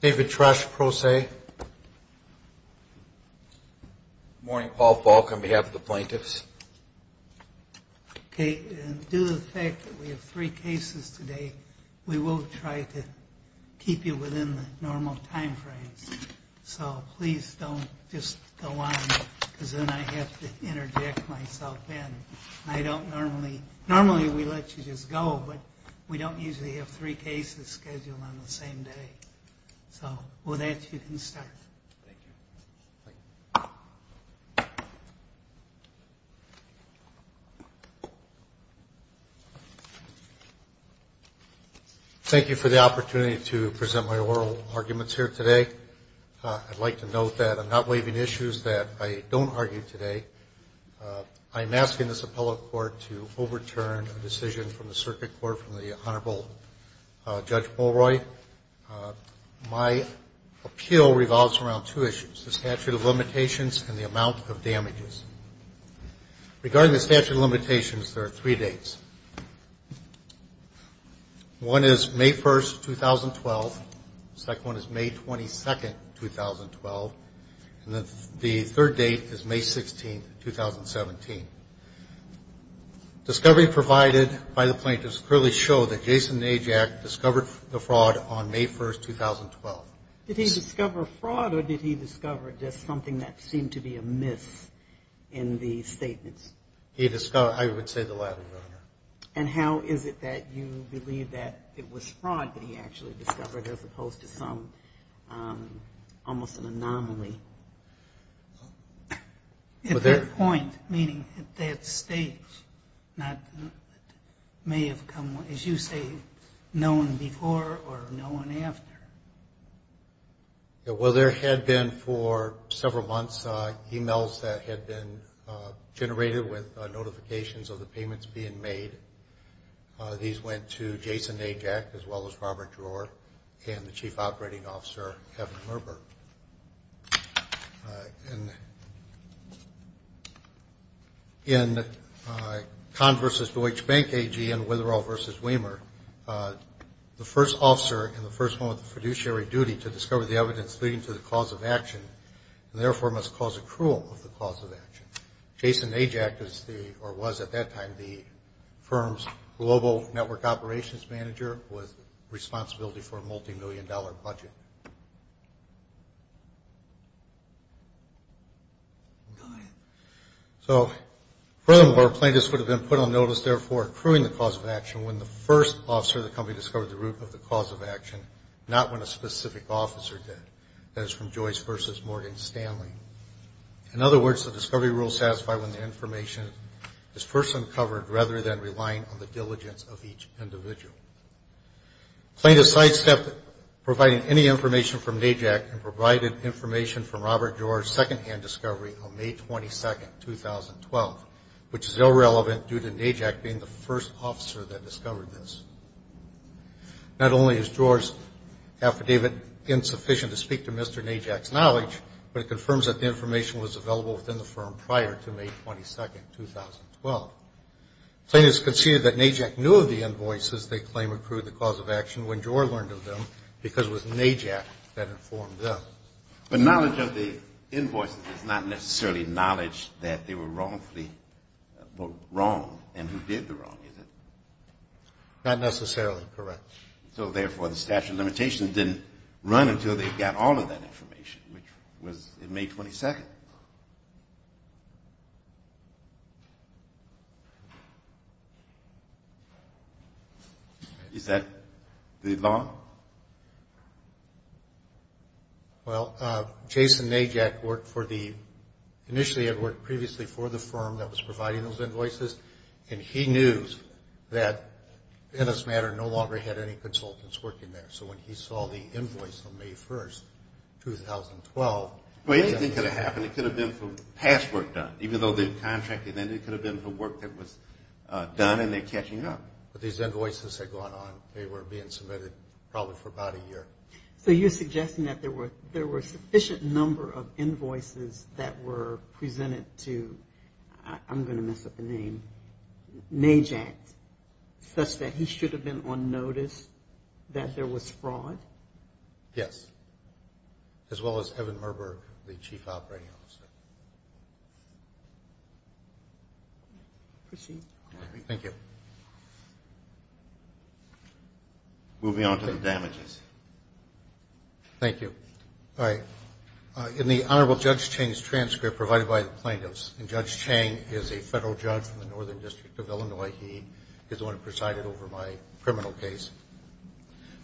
David Tresch, Pro Se Morning, Paul Falk, on behalf of the plaintiffs. Okay, due to the fact that we have three cases today, we will try to keep you within the normal time frames. So please don't just go on, because then I have to interject myself in. I don't normally, normally we let you just go, but we don't usually have three cases scheduled on the same day. So with that, you can start. Thank you. Thank you for the opportunity to present my oral arguments here today. I'd like to note that I'm not waiving issues that I don't argue today. I'm asking this appellate court to overturn a decision from the circuit court from the Honorable Judge Molroy. My appeal revolves around two issues, the statute of limitations and the amount of damages. Regarding the statute of limitations, there are three dates. One is May 1, 2012. The second one is May 22, 2012. And the third date is May 16, 2017. Discovery provided by the plaintiffs clearly show that Jason Najak discovered the fraud on May 1, 2012. Did he discover fraud, or did he discover just something that seemed to be amiss in the statements? He discovered, I would say, the latter, Your Honor. And how is it that you believe that it was fraud that he actually discovered as opposed to some, almost an anomaly? At that point, meaning at that stage, not may have come, as you say, known before or known after. Well, there had been for several months e-mails that had been generated with notifications of the payments being made. These went to Jason Najak as well as Robert Dror and the Chief Operating Officer, Kevin Merber. And in Kahn v. Deutsche Bank AG and Witherell v. Weimer, the first officer in the first moment of the fiduciary duty to discover the evidence leading to the cause of action, and therefore must cause accrual of the cause of action. Jason Najak is the, or was at that time, the firm's global network operations manager with responsibility for a multimillion-dollar budget. Go ahead. So, furthermore, plaintiffs would have been put on notice, therefore, accruing the cause of action when the first officer of the company discovered the root of the cause of action, not when a specific officer did. That is from Joyce v. Morgan Stanley. In other words, the discovery rules satisfy when the information is first uncovered rather than relying on the diligence of each individual. Plaintiffs sidestepped providing any information from Najak and provided information from Robert Dror's secondhand discovery on May 22, 2012, which is irrelevant due to Najak being the first officer that discovered this. Not only is Dror's affidavit insufficient to speak to Mr. Najak's knowledge, but it confirms that the information was available within the firm prior to May 22, 2012. Plaintiffs conceded that Najak knew of the invoices they claim accrued the cause of action when Dror learned of them because it was Najak that informed them. But knowledge of the invoices is not necessarily knowledge that they were wrongfully wrong and who did the wrong, is it? Not necessarily correct. So, therefore, the statute of limitations didn't run until they got all of that information, which was in May 22. Is that the law? Well, Jason Najak initially had worked previously for the firm that was providing those invoices, and he knew that Ennis Matter no longer had any consultants working there. So when he saw the invoice on May 1, 2012, Well, anything could have happened. It could have been from past work done, even though they've contracted. It could have been from work that was done and they're catching up. But these invoices had gone on. They were being submitted probably for about a year. So you're suggesting that there were a sufficient number of invoices that were presented to, I'm going to mess up the name, Najak, such that he should have been on notice that there was fraud? Yes, as well as Evan Merberg, the chief operating officer. Proceed. Thank you. Moving on to the damages. Thank you. All right. In the Honorable Judge Chang's transcript provided by the plaintiffs, and Judge Chang is a federal judge from the Northern District of Illinois. He is the one who presided over my criminal case.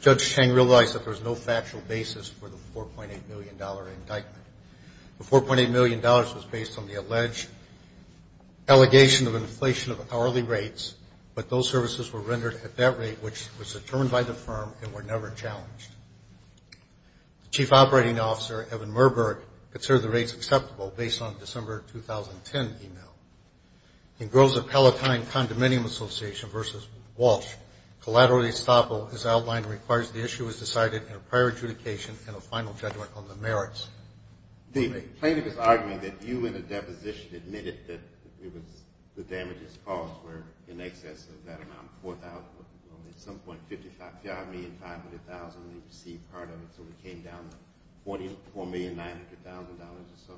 Judge Chang realized that there was no factual basis for the $4.8 million indictment. The $4.8 million was based on the alleged allegation of inflation of hourly rates, but those services were rendered at that rate, which was determined by the firm and were never challenged. The chief operating officer, Evan Merberg, considered the rates acceptable based on the December 2010 email. In Groza-Palatine Condominium Association v. Walsh, collateral estoppel is outlined and requires the issue is decided in a prior adjudication and a final judgment on the merits. The plaintiff is arguing that you, in a deposition, admitted that the damages caused were in excess of that amount, $4,000, at some point $55,500,000, and you received part of it, so it came down to $44,900,000 or so,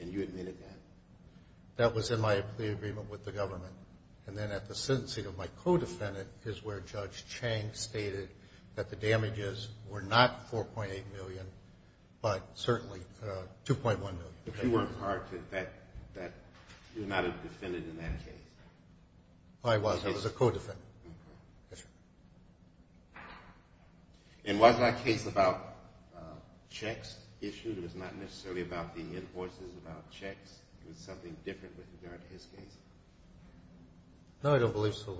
and you admitted that. That was in my agreement with the government. And then at the sentencing of my co-defendant is where Judge Chang stated that the damages were not $4.8 million, but certainly $2.1 million. But you weren't a defendant in that case. I was. I was a co-defendant. And was that case about checks issued? It was not necessarily about the invoices, about checks. It was something different with regard to his case? No, I don't believe so.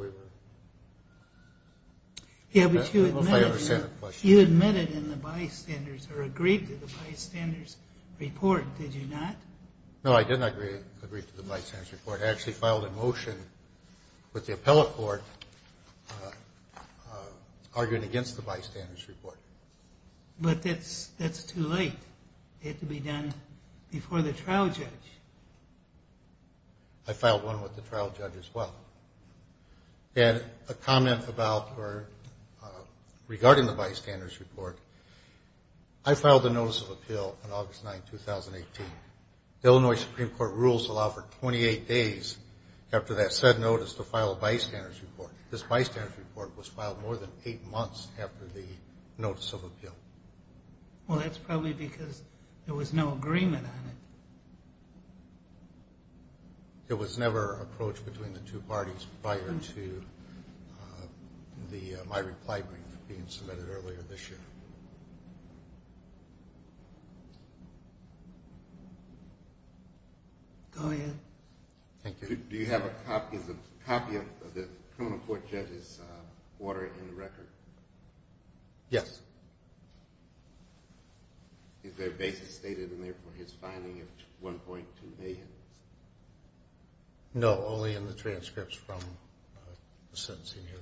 Yeah, but you admitted in the bystanders or agreed to the bystanders' report, did you not? I actually filed a motion with the appellate court arguing against the bystanders' report. But that's too late. It had to be done before the trial judge. I filed one with the trial judge as well. And a comment about or regarding the bystanders' report, I filed a notice of appeal on August 9, 2018. Illinois Supreme Court rules allow for 28 days after that said notice to file a bystanders' report. This bystanders' report was filed more than eight months after the notice of appeal. Well, that's probably because there was no agreement on it. It was never approached between the two parties prior to my reply brief being submitted earlier this year. Go ahead. Thank you. Do you have a copy of the criminal court judge's order in the record? Yes. Is there a basis stated in there for his fining of $1.2 million? No, only in the transcripts from the sentencing hearing.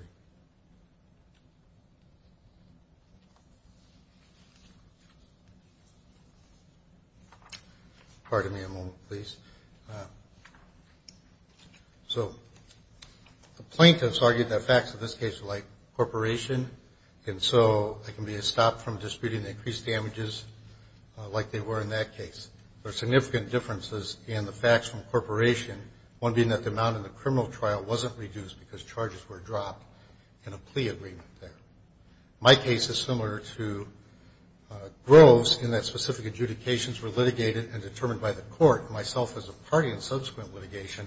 Pardon me a moment, please. So the plaintiffs argued that facts in this case were like corporation, and so there can be a stop from disputing the increased damages like they were in that case. There are significant differences in the facts from corporation, one being that the amount in the criminal trial wasn't reduced because charges were dropped in a plea agreement there. My case is similar to Groves in that specific adjudications were litigated and determined by the court, myself as a party in subsequent litigation,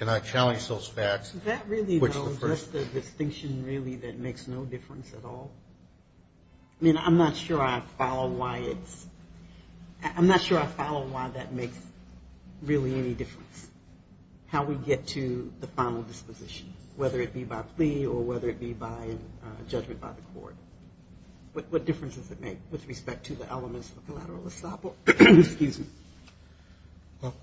and I challenged those facts. Is that really the distinction really that makes no difference at all? I mean, I'm not sure I follow why it's ñ I'm not sure I follow why that makes really any difference, how we get to the final disposition, whether it be by plea or whether it be by judgment by the court. What difference does it make with respect to the elements of the collateral estoppel? Well,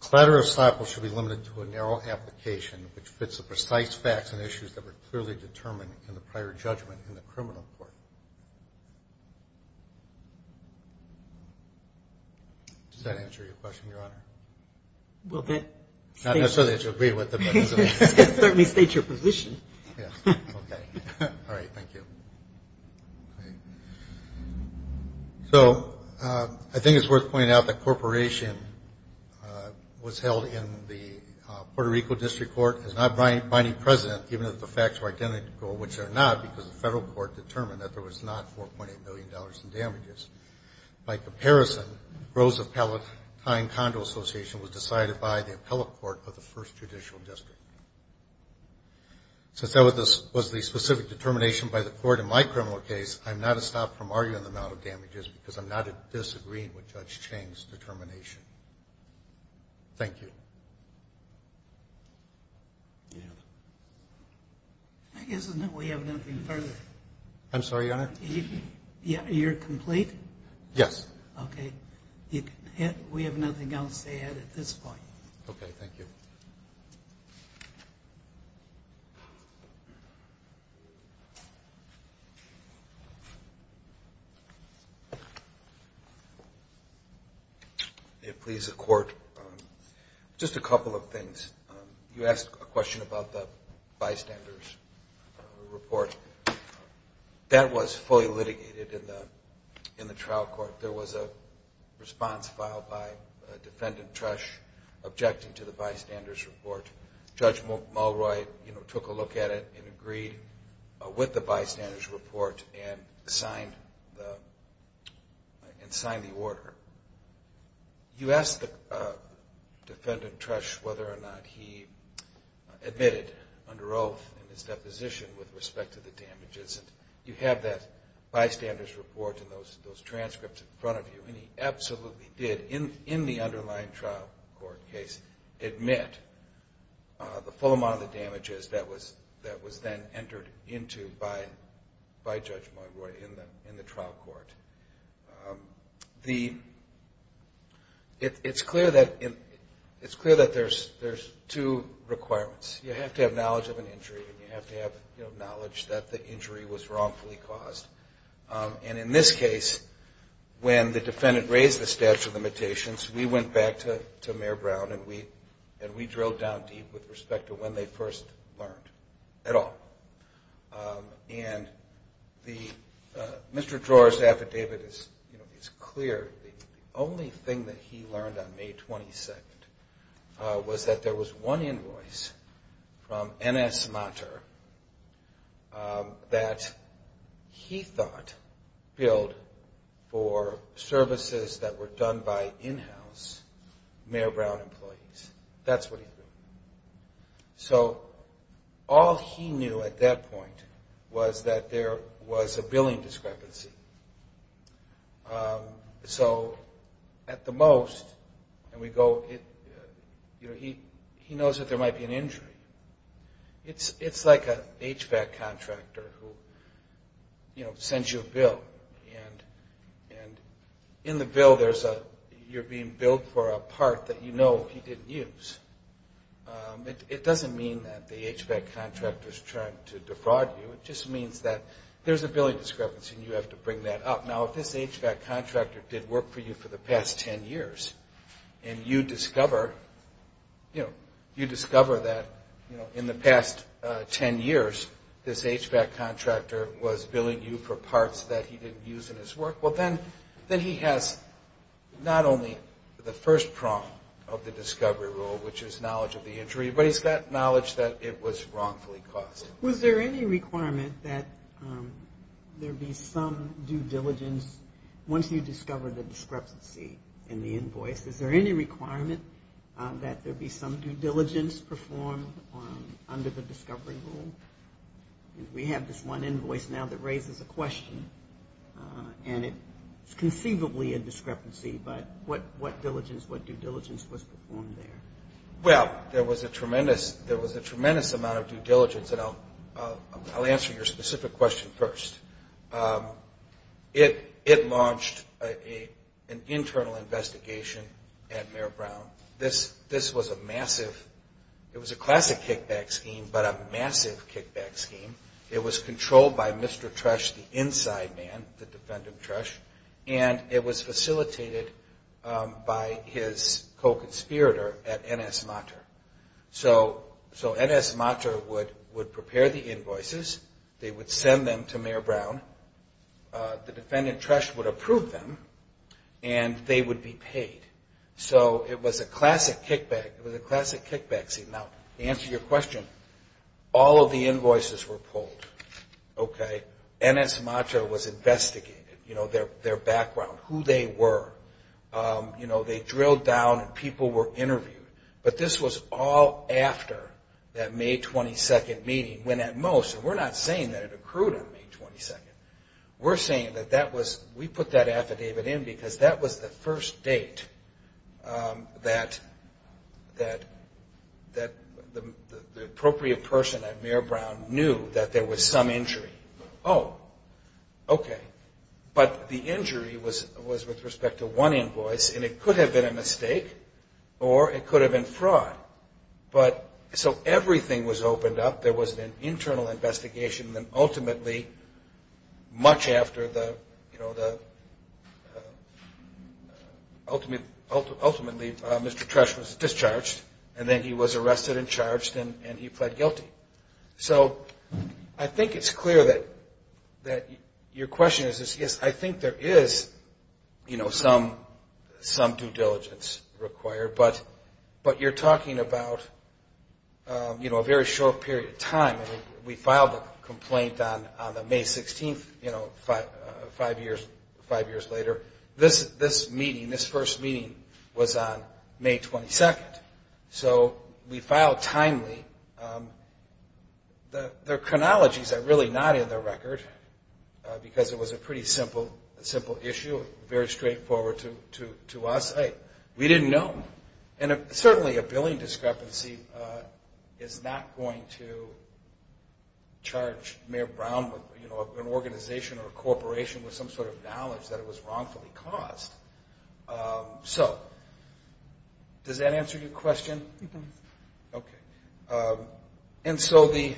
collateral estoppel should be limited to a narrow application which fits the precise facts and issues that were clearly determined in the prior judgment in the criminal court. Does that answer your question, Your Honor? Not necessarily to agree with it, but it certainly states your position. Yes. Okay. All right. Thank you. So I think it's worth pointing out that corporation was held in the Puerto Rico District Court as not binding precedent, even if the facts were identical, which they're not, because the federal court determined that there was not $4.8 billion in damages. By comparison, Groves Appellate Time Condo Association was decided by the appellate court of the First Judicial District. Since that was the specific determination by the court in my criminal case, I'm not a stop from arguing the amount of damages because I'm not disagreeing with Judge Chang's determination. Thank you. I guess we have nothing further. I'm sorry, Your Honor? You're complete? Yes. Okay. We have nothing else to add at this point. Okay. Thank you. Thank you. If it pleases the Court, just a couple of things. You asked a question about the bystanders report. That was fully litigated in the trial court. There was a response filed by Defendant Tresch objecting to the bystanders report. Judge Mulroy took a look at it and agreed with the bystanders report and signed the order. You asked Defendant Tresch whether or not he admitted under oath in his deposition with respect to the damages. You have that bystanders report and those transcripts in front of you, and he absolutely did, in the underlying trial court case, admit the full amount of the damages that was then entered into by Judge Mulroy in the trial court. It's clear that there's two requirements. You have to have knowledge of an injury and you have to have knowledge that the injury was wrongfully caused. And in this case, when the defendant raised the statute of limitations, we went back to Mayor Brown and we drilled down deep with respect to when they first learned at all. And Mr. Tresch's affidavit is clear. The only thing that he learned on May 22nd was that there was one invoice from N.S. Monter that he thought billed for services that were done by in-house Mayor Brown employees. That's what he knew. So all he knew at that point was that there was a billing discrepancy. So at the most, he knows that there might be an injury. It's like an HVAC contractor who sends you a bill, and in the bill you're being billed for a part that you know he didn't use. It doesn't mean that the HVAC contractor is trying to defraud you. It just means that there's a billing discrepancy and you have to bring that up. Now, if this HVAC contractor did work for you for the past 10 years and you discover that in the past 10 years this HVAC contractor was billing you for parts that he didn't use in his work, well then he has not only the first prong of the discovery rule, which is knowledge of the injury, but he's got knowledge that it was wrongfully caused. Was there any requirement that there be some due diligence once you discover the discrepancy in the invoice? Is there any requirement that there be some due diligence performed under the discovery rule? We have this one invoice now that raises a question, and it's conceivably a discrepancy, but what due diligence was performed there? Well, there was a tremendous amount of due diligence, and I'll answer your specific question first. It launched an internal investigation at Mayor Brown. This was a massive, it was a classic kickback scheme, but a massive kickback scheme. It was controlled by Mr. Tresch, the inside man, the defendant Tresch, and it was facilitated by his co-conspirator at NS Mater. So NS Mater would prepare the invoices, they would send them to Mayor Brown, the defendant Tresch would approve them, and they would be paid. So it was a classic kickback, it was a classic kickback scheme. Now, to answer your question, all of the invoices were pulled. NS Mater was investigated, their background, who they were. They drilled down and people were interviewed, but this was all after that May 22nd meeting, when at most, and we're not saying that it accrued on May 22nd, we're saying that that was, we put that affidavit in because that was the first date that the appropriate person at Mayor Brown knew that there was some injury. Oh, okay, but the injury was with respect to one invoice, and it could have been a mistake, or it could have been fraud. But, so everything was opened up, there was an internal investigation, and then ultimately, much after the, ultimately Mr. Tresch was discharged, and then he was arrested and charged and he pled guilty. So I think it's clear that your question is, yes, I think there is some due diligence required, but you're talking about a very short period of time. I mean, we filed the complaint on the May 16th, you know, five years later. This meeting, this first meeting was on May 22nd. So we filed timely. The chronologies are really not in the record, because it was a pretty simple issue, very straightforward to us. We didn't know. And certainly a billing discrepancy is not going to charge Mayor Brown, you know, an organization or a corporation with some sort of knowledge that it was wrongfully caused. So does that answer your question? Okay. And so the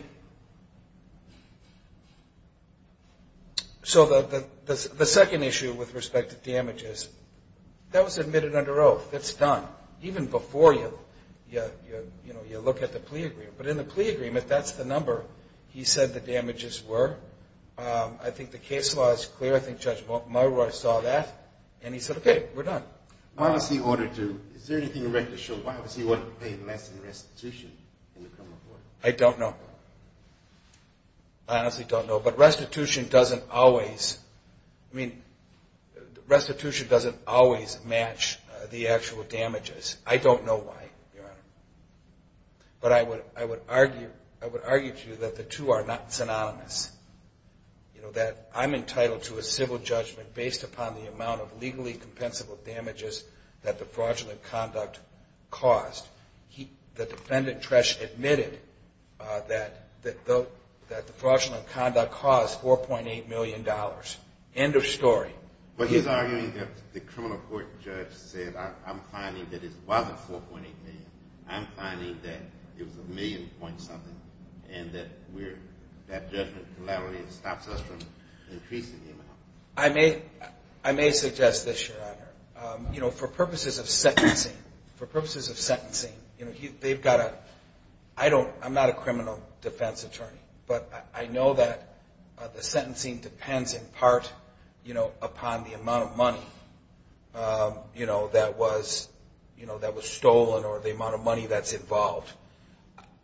second issue with respect to damages, that was admitted under oath. It's done. Even before you, you know, you look at the plea agreement. But in the plea agreement, that's the number he said the damages were. I think the case law is clear. I think Judge Mullroy saw that, and he said, okay, we're done. Why was he ordered to – is there anything in record to show why was he ordered to pay less in restitution? I don't know. I honestly don't know. But restitution doesn't always – I mean, restitution doesn't always match the actual damages. I don't know why, Your Honor. But I would argue to you that the two are not synonymous, you know, that I'm entitled to a civil judgment based upon the amount of legally compensable damages that the fraudulent conduct caused. The defendant, Tresh, admitted that the fraudulent conduct caused $4.8 million. End of story. But he's arguing that the criminal court judge said, I'm finding that it wasn't $4.8 million. I'm finding that it was a million point something, and that we're – that judgment collaterally stops us from increasing the amount. I may suggest this, Your Honor. You know, for purposes of sentencing, for purposes of sentencing, you know, they've got a – I don't – I'm not a criminal defense attorney, but I know that the sentencing depends in part, you know, upon the amount of money, you know, that was stolen or the amount of money that's involved.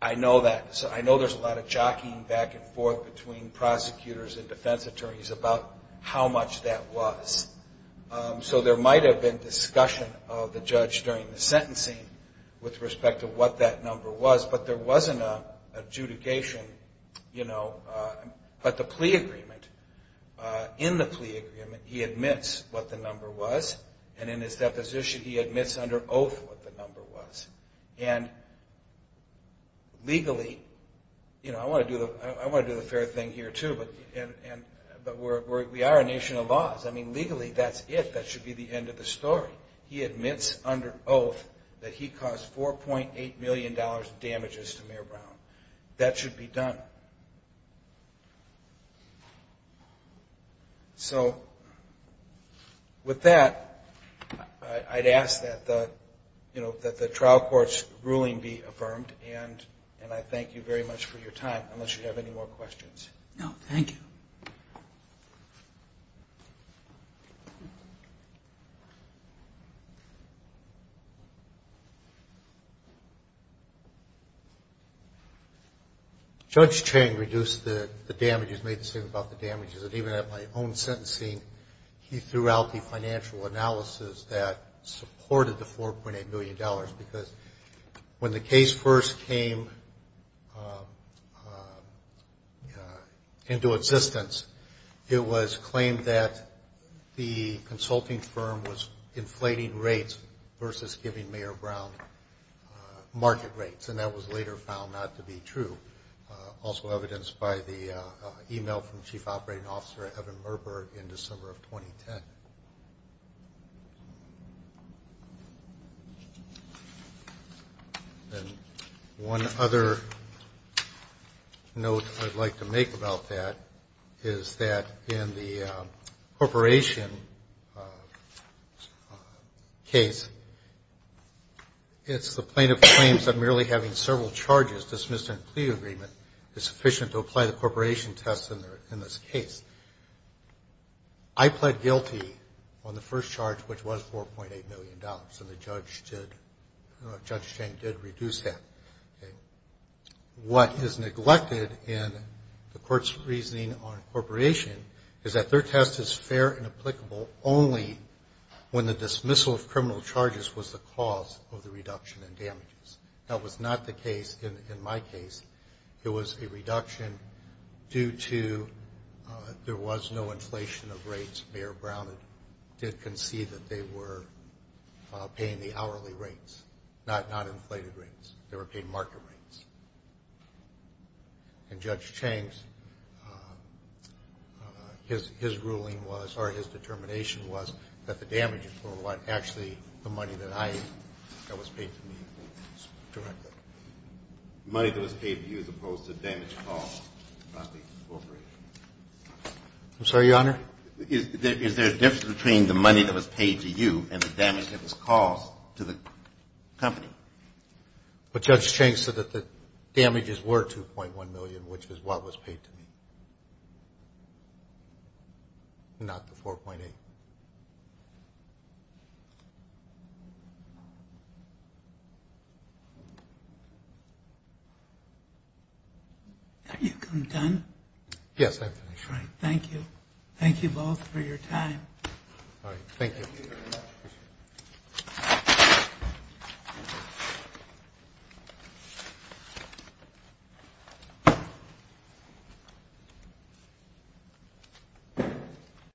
I know that – I know there's a lot of jockeying back and forth between prosecutors and defense attorneys about how much that was. So there might have been discussion of the judge during the sentencing with respect to what that number was, but there wasn't an adjudication, you know. But the plea agreement – in the plea agreement, he admits what the number was, and in his deposition, he admits under oath what the number was. And legally, you know, I want to do the fair thing here, too, but we are a nation of laws. I mean, legally, that's it. That should be the end of the story. He admits under oath that he caused $4.8 million in damages to Mayor Brown. That should be done. So with that, I'd ask that, you know, that the trial court's ruling be affirmed, and I thank you very much for your time, unless you have any more questions. No, thank you. Thank you. Judge Cheng reduced the damages, made the statement about the damages, and even at my own sentencing, he threw out the financial analysis that supported the $4.8 million because when the case first came into existence, it was claimed that the consulting firm was inflating rates versus giving Mayor Brown market rates, and that was later found not to be true, also evidenced by the e-mail from Chief Operating Officer Evan Merberg in December of 2010. And one other note I'd like to make about that is that in the corporation case, it's the plaintiff claims that merely having several charges dismissed in a plea agreement is sufficient to apply the corporation test in this case. I pled guilty on the first charge, which was $4.8 million, and Judge Cheng did reduce that. What is neglected in the court's reasoning on corporation is that their test is fair and applicable only when the dismissal of criminal charges was the cause of the reduction in damages. That was not the case in my case. It was a reduction due to there was no inflation of rates. Mayor Brown did concede that they were paying the hourly rates, not inflated rates. They were paying market rates. And Judge Cheng's ruling was, or his determination was, that the damages were what? Actually, the money that was paid to me directly. The money that was paid to you as opposed to the damage caused by the corporation. I'm sorry, Your Honor? Is there a difference between the money that was paid to you and the damage that was caused to the company? Well, Judge Cheng said that the damages were $2.1 million, which is what was paid to me, not the $4.8. Are you done? Yes, I'm finished. All right, thank you. Thank you both for your time. All right, thank you. Thank you.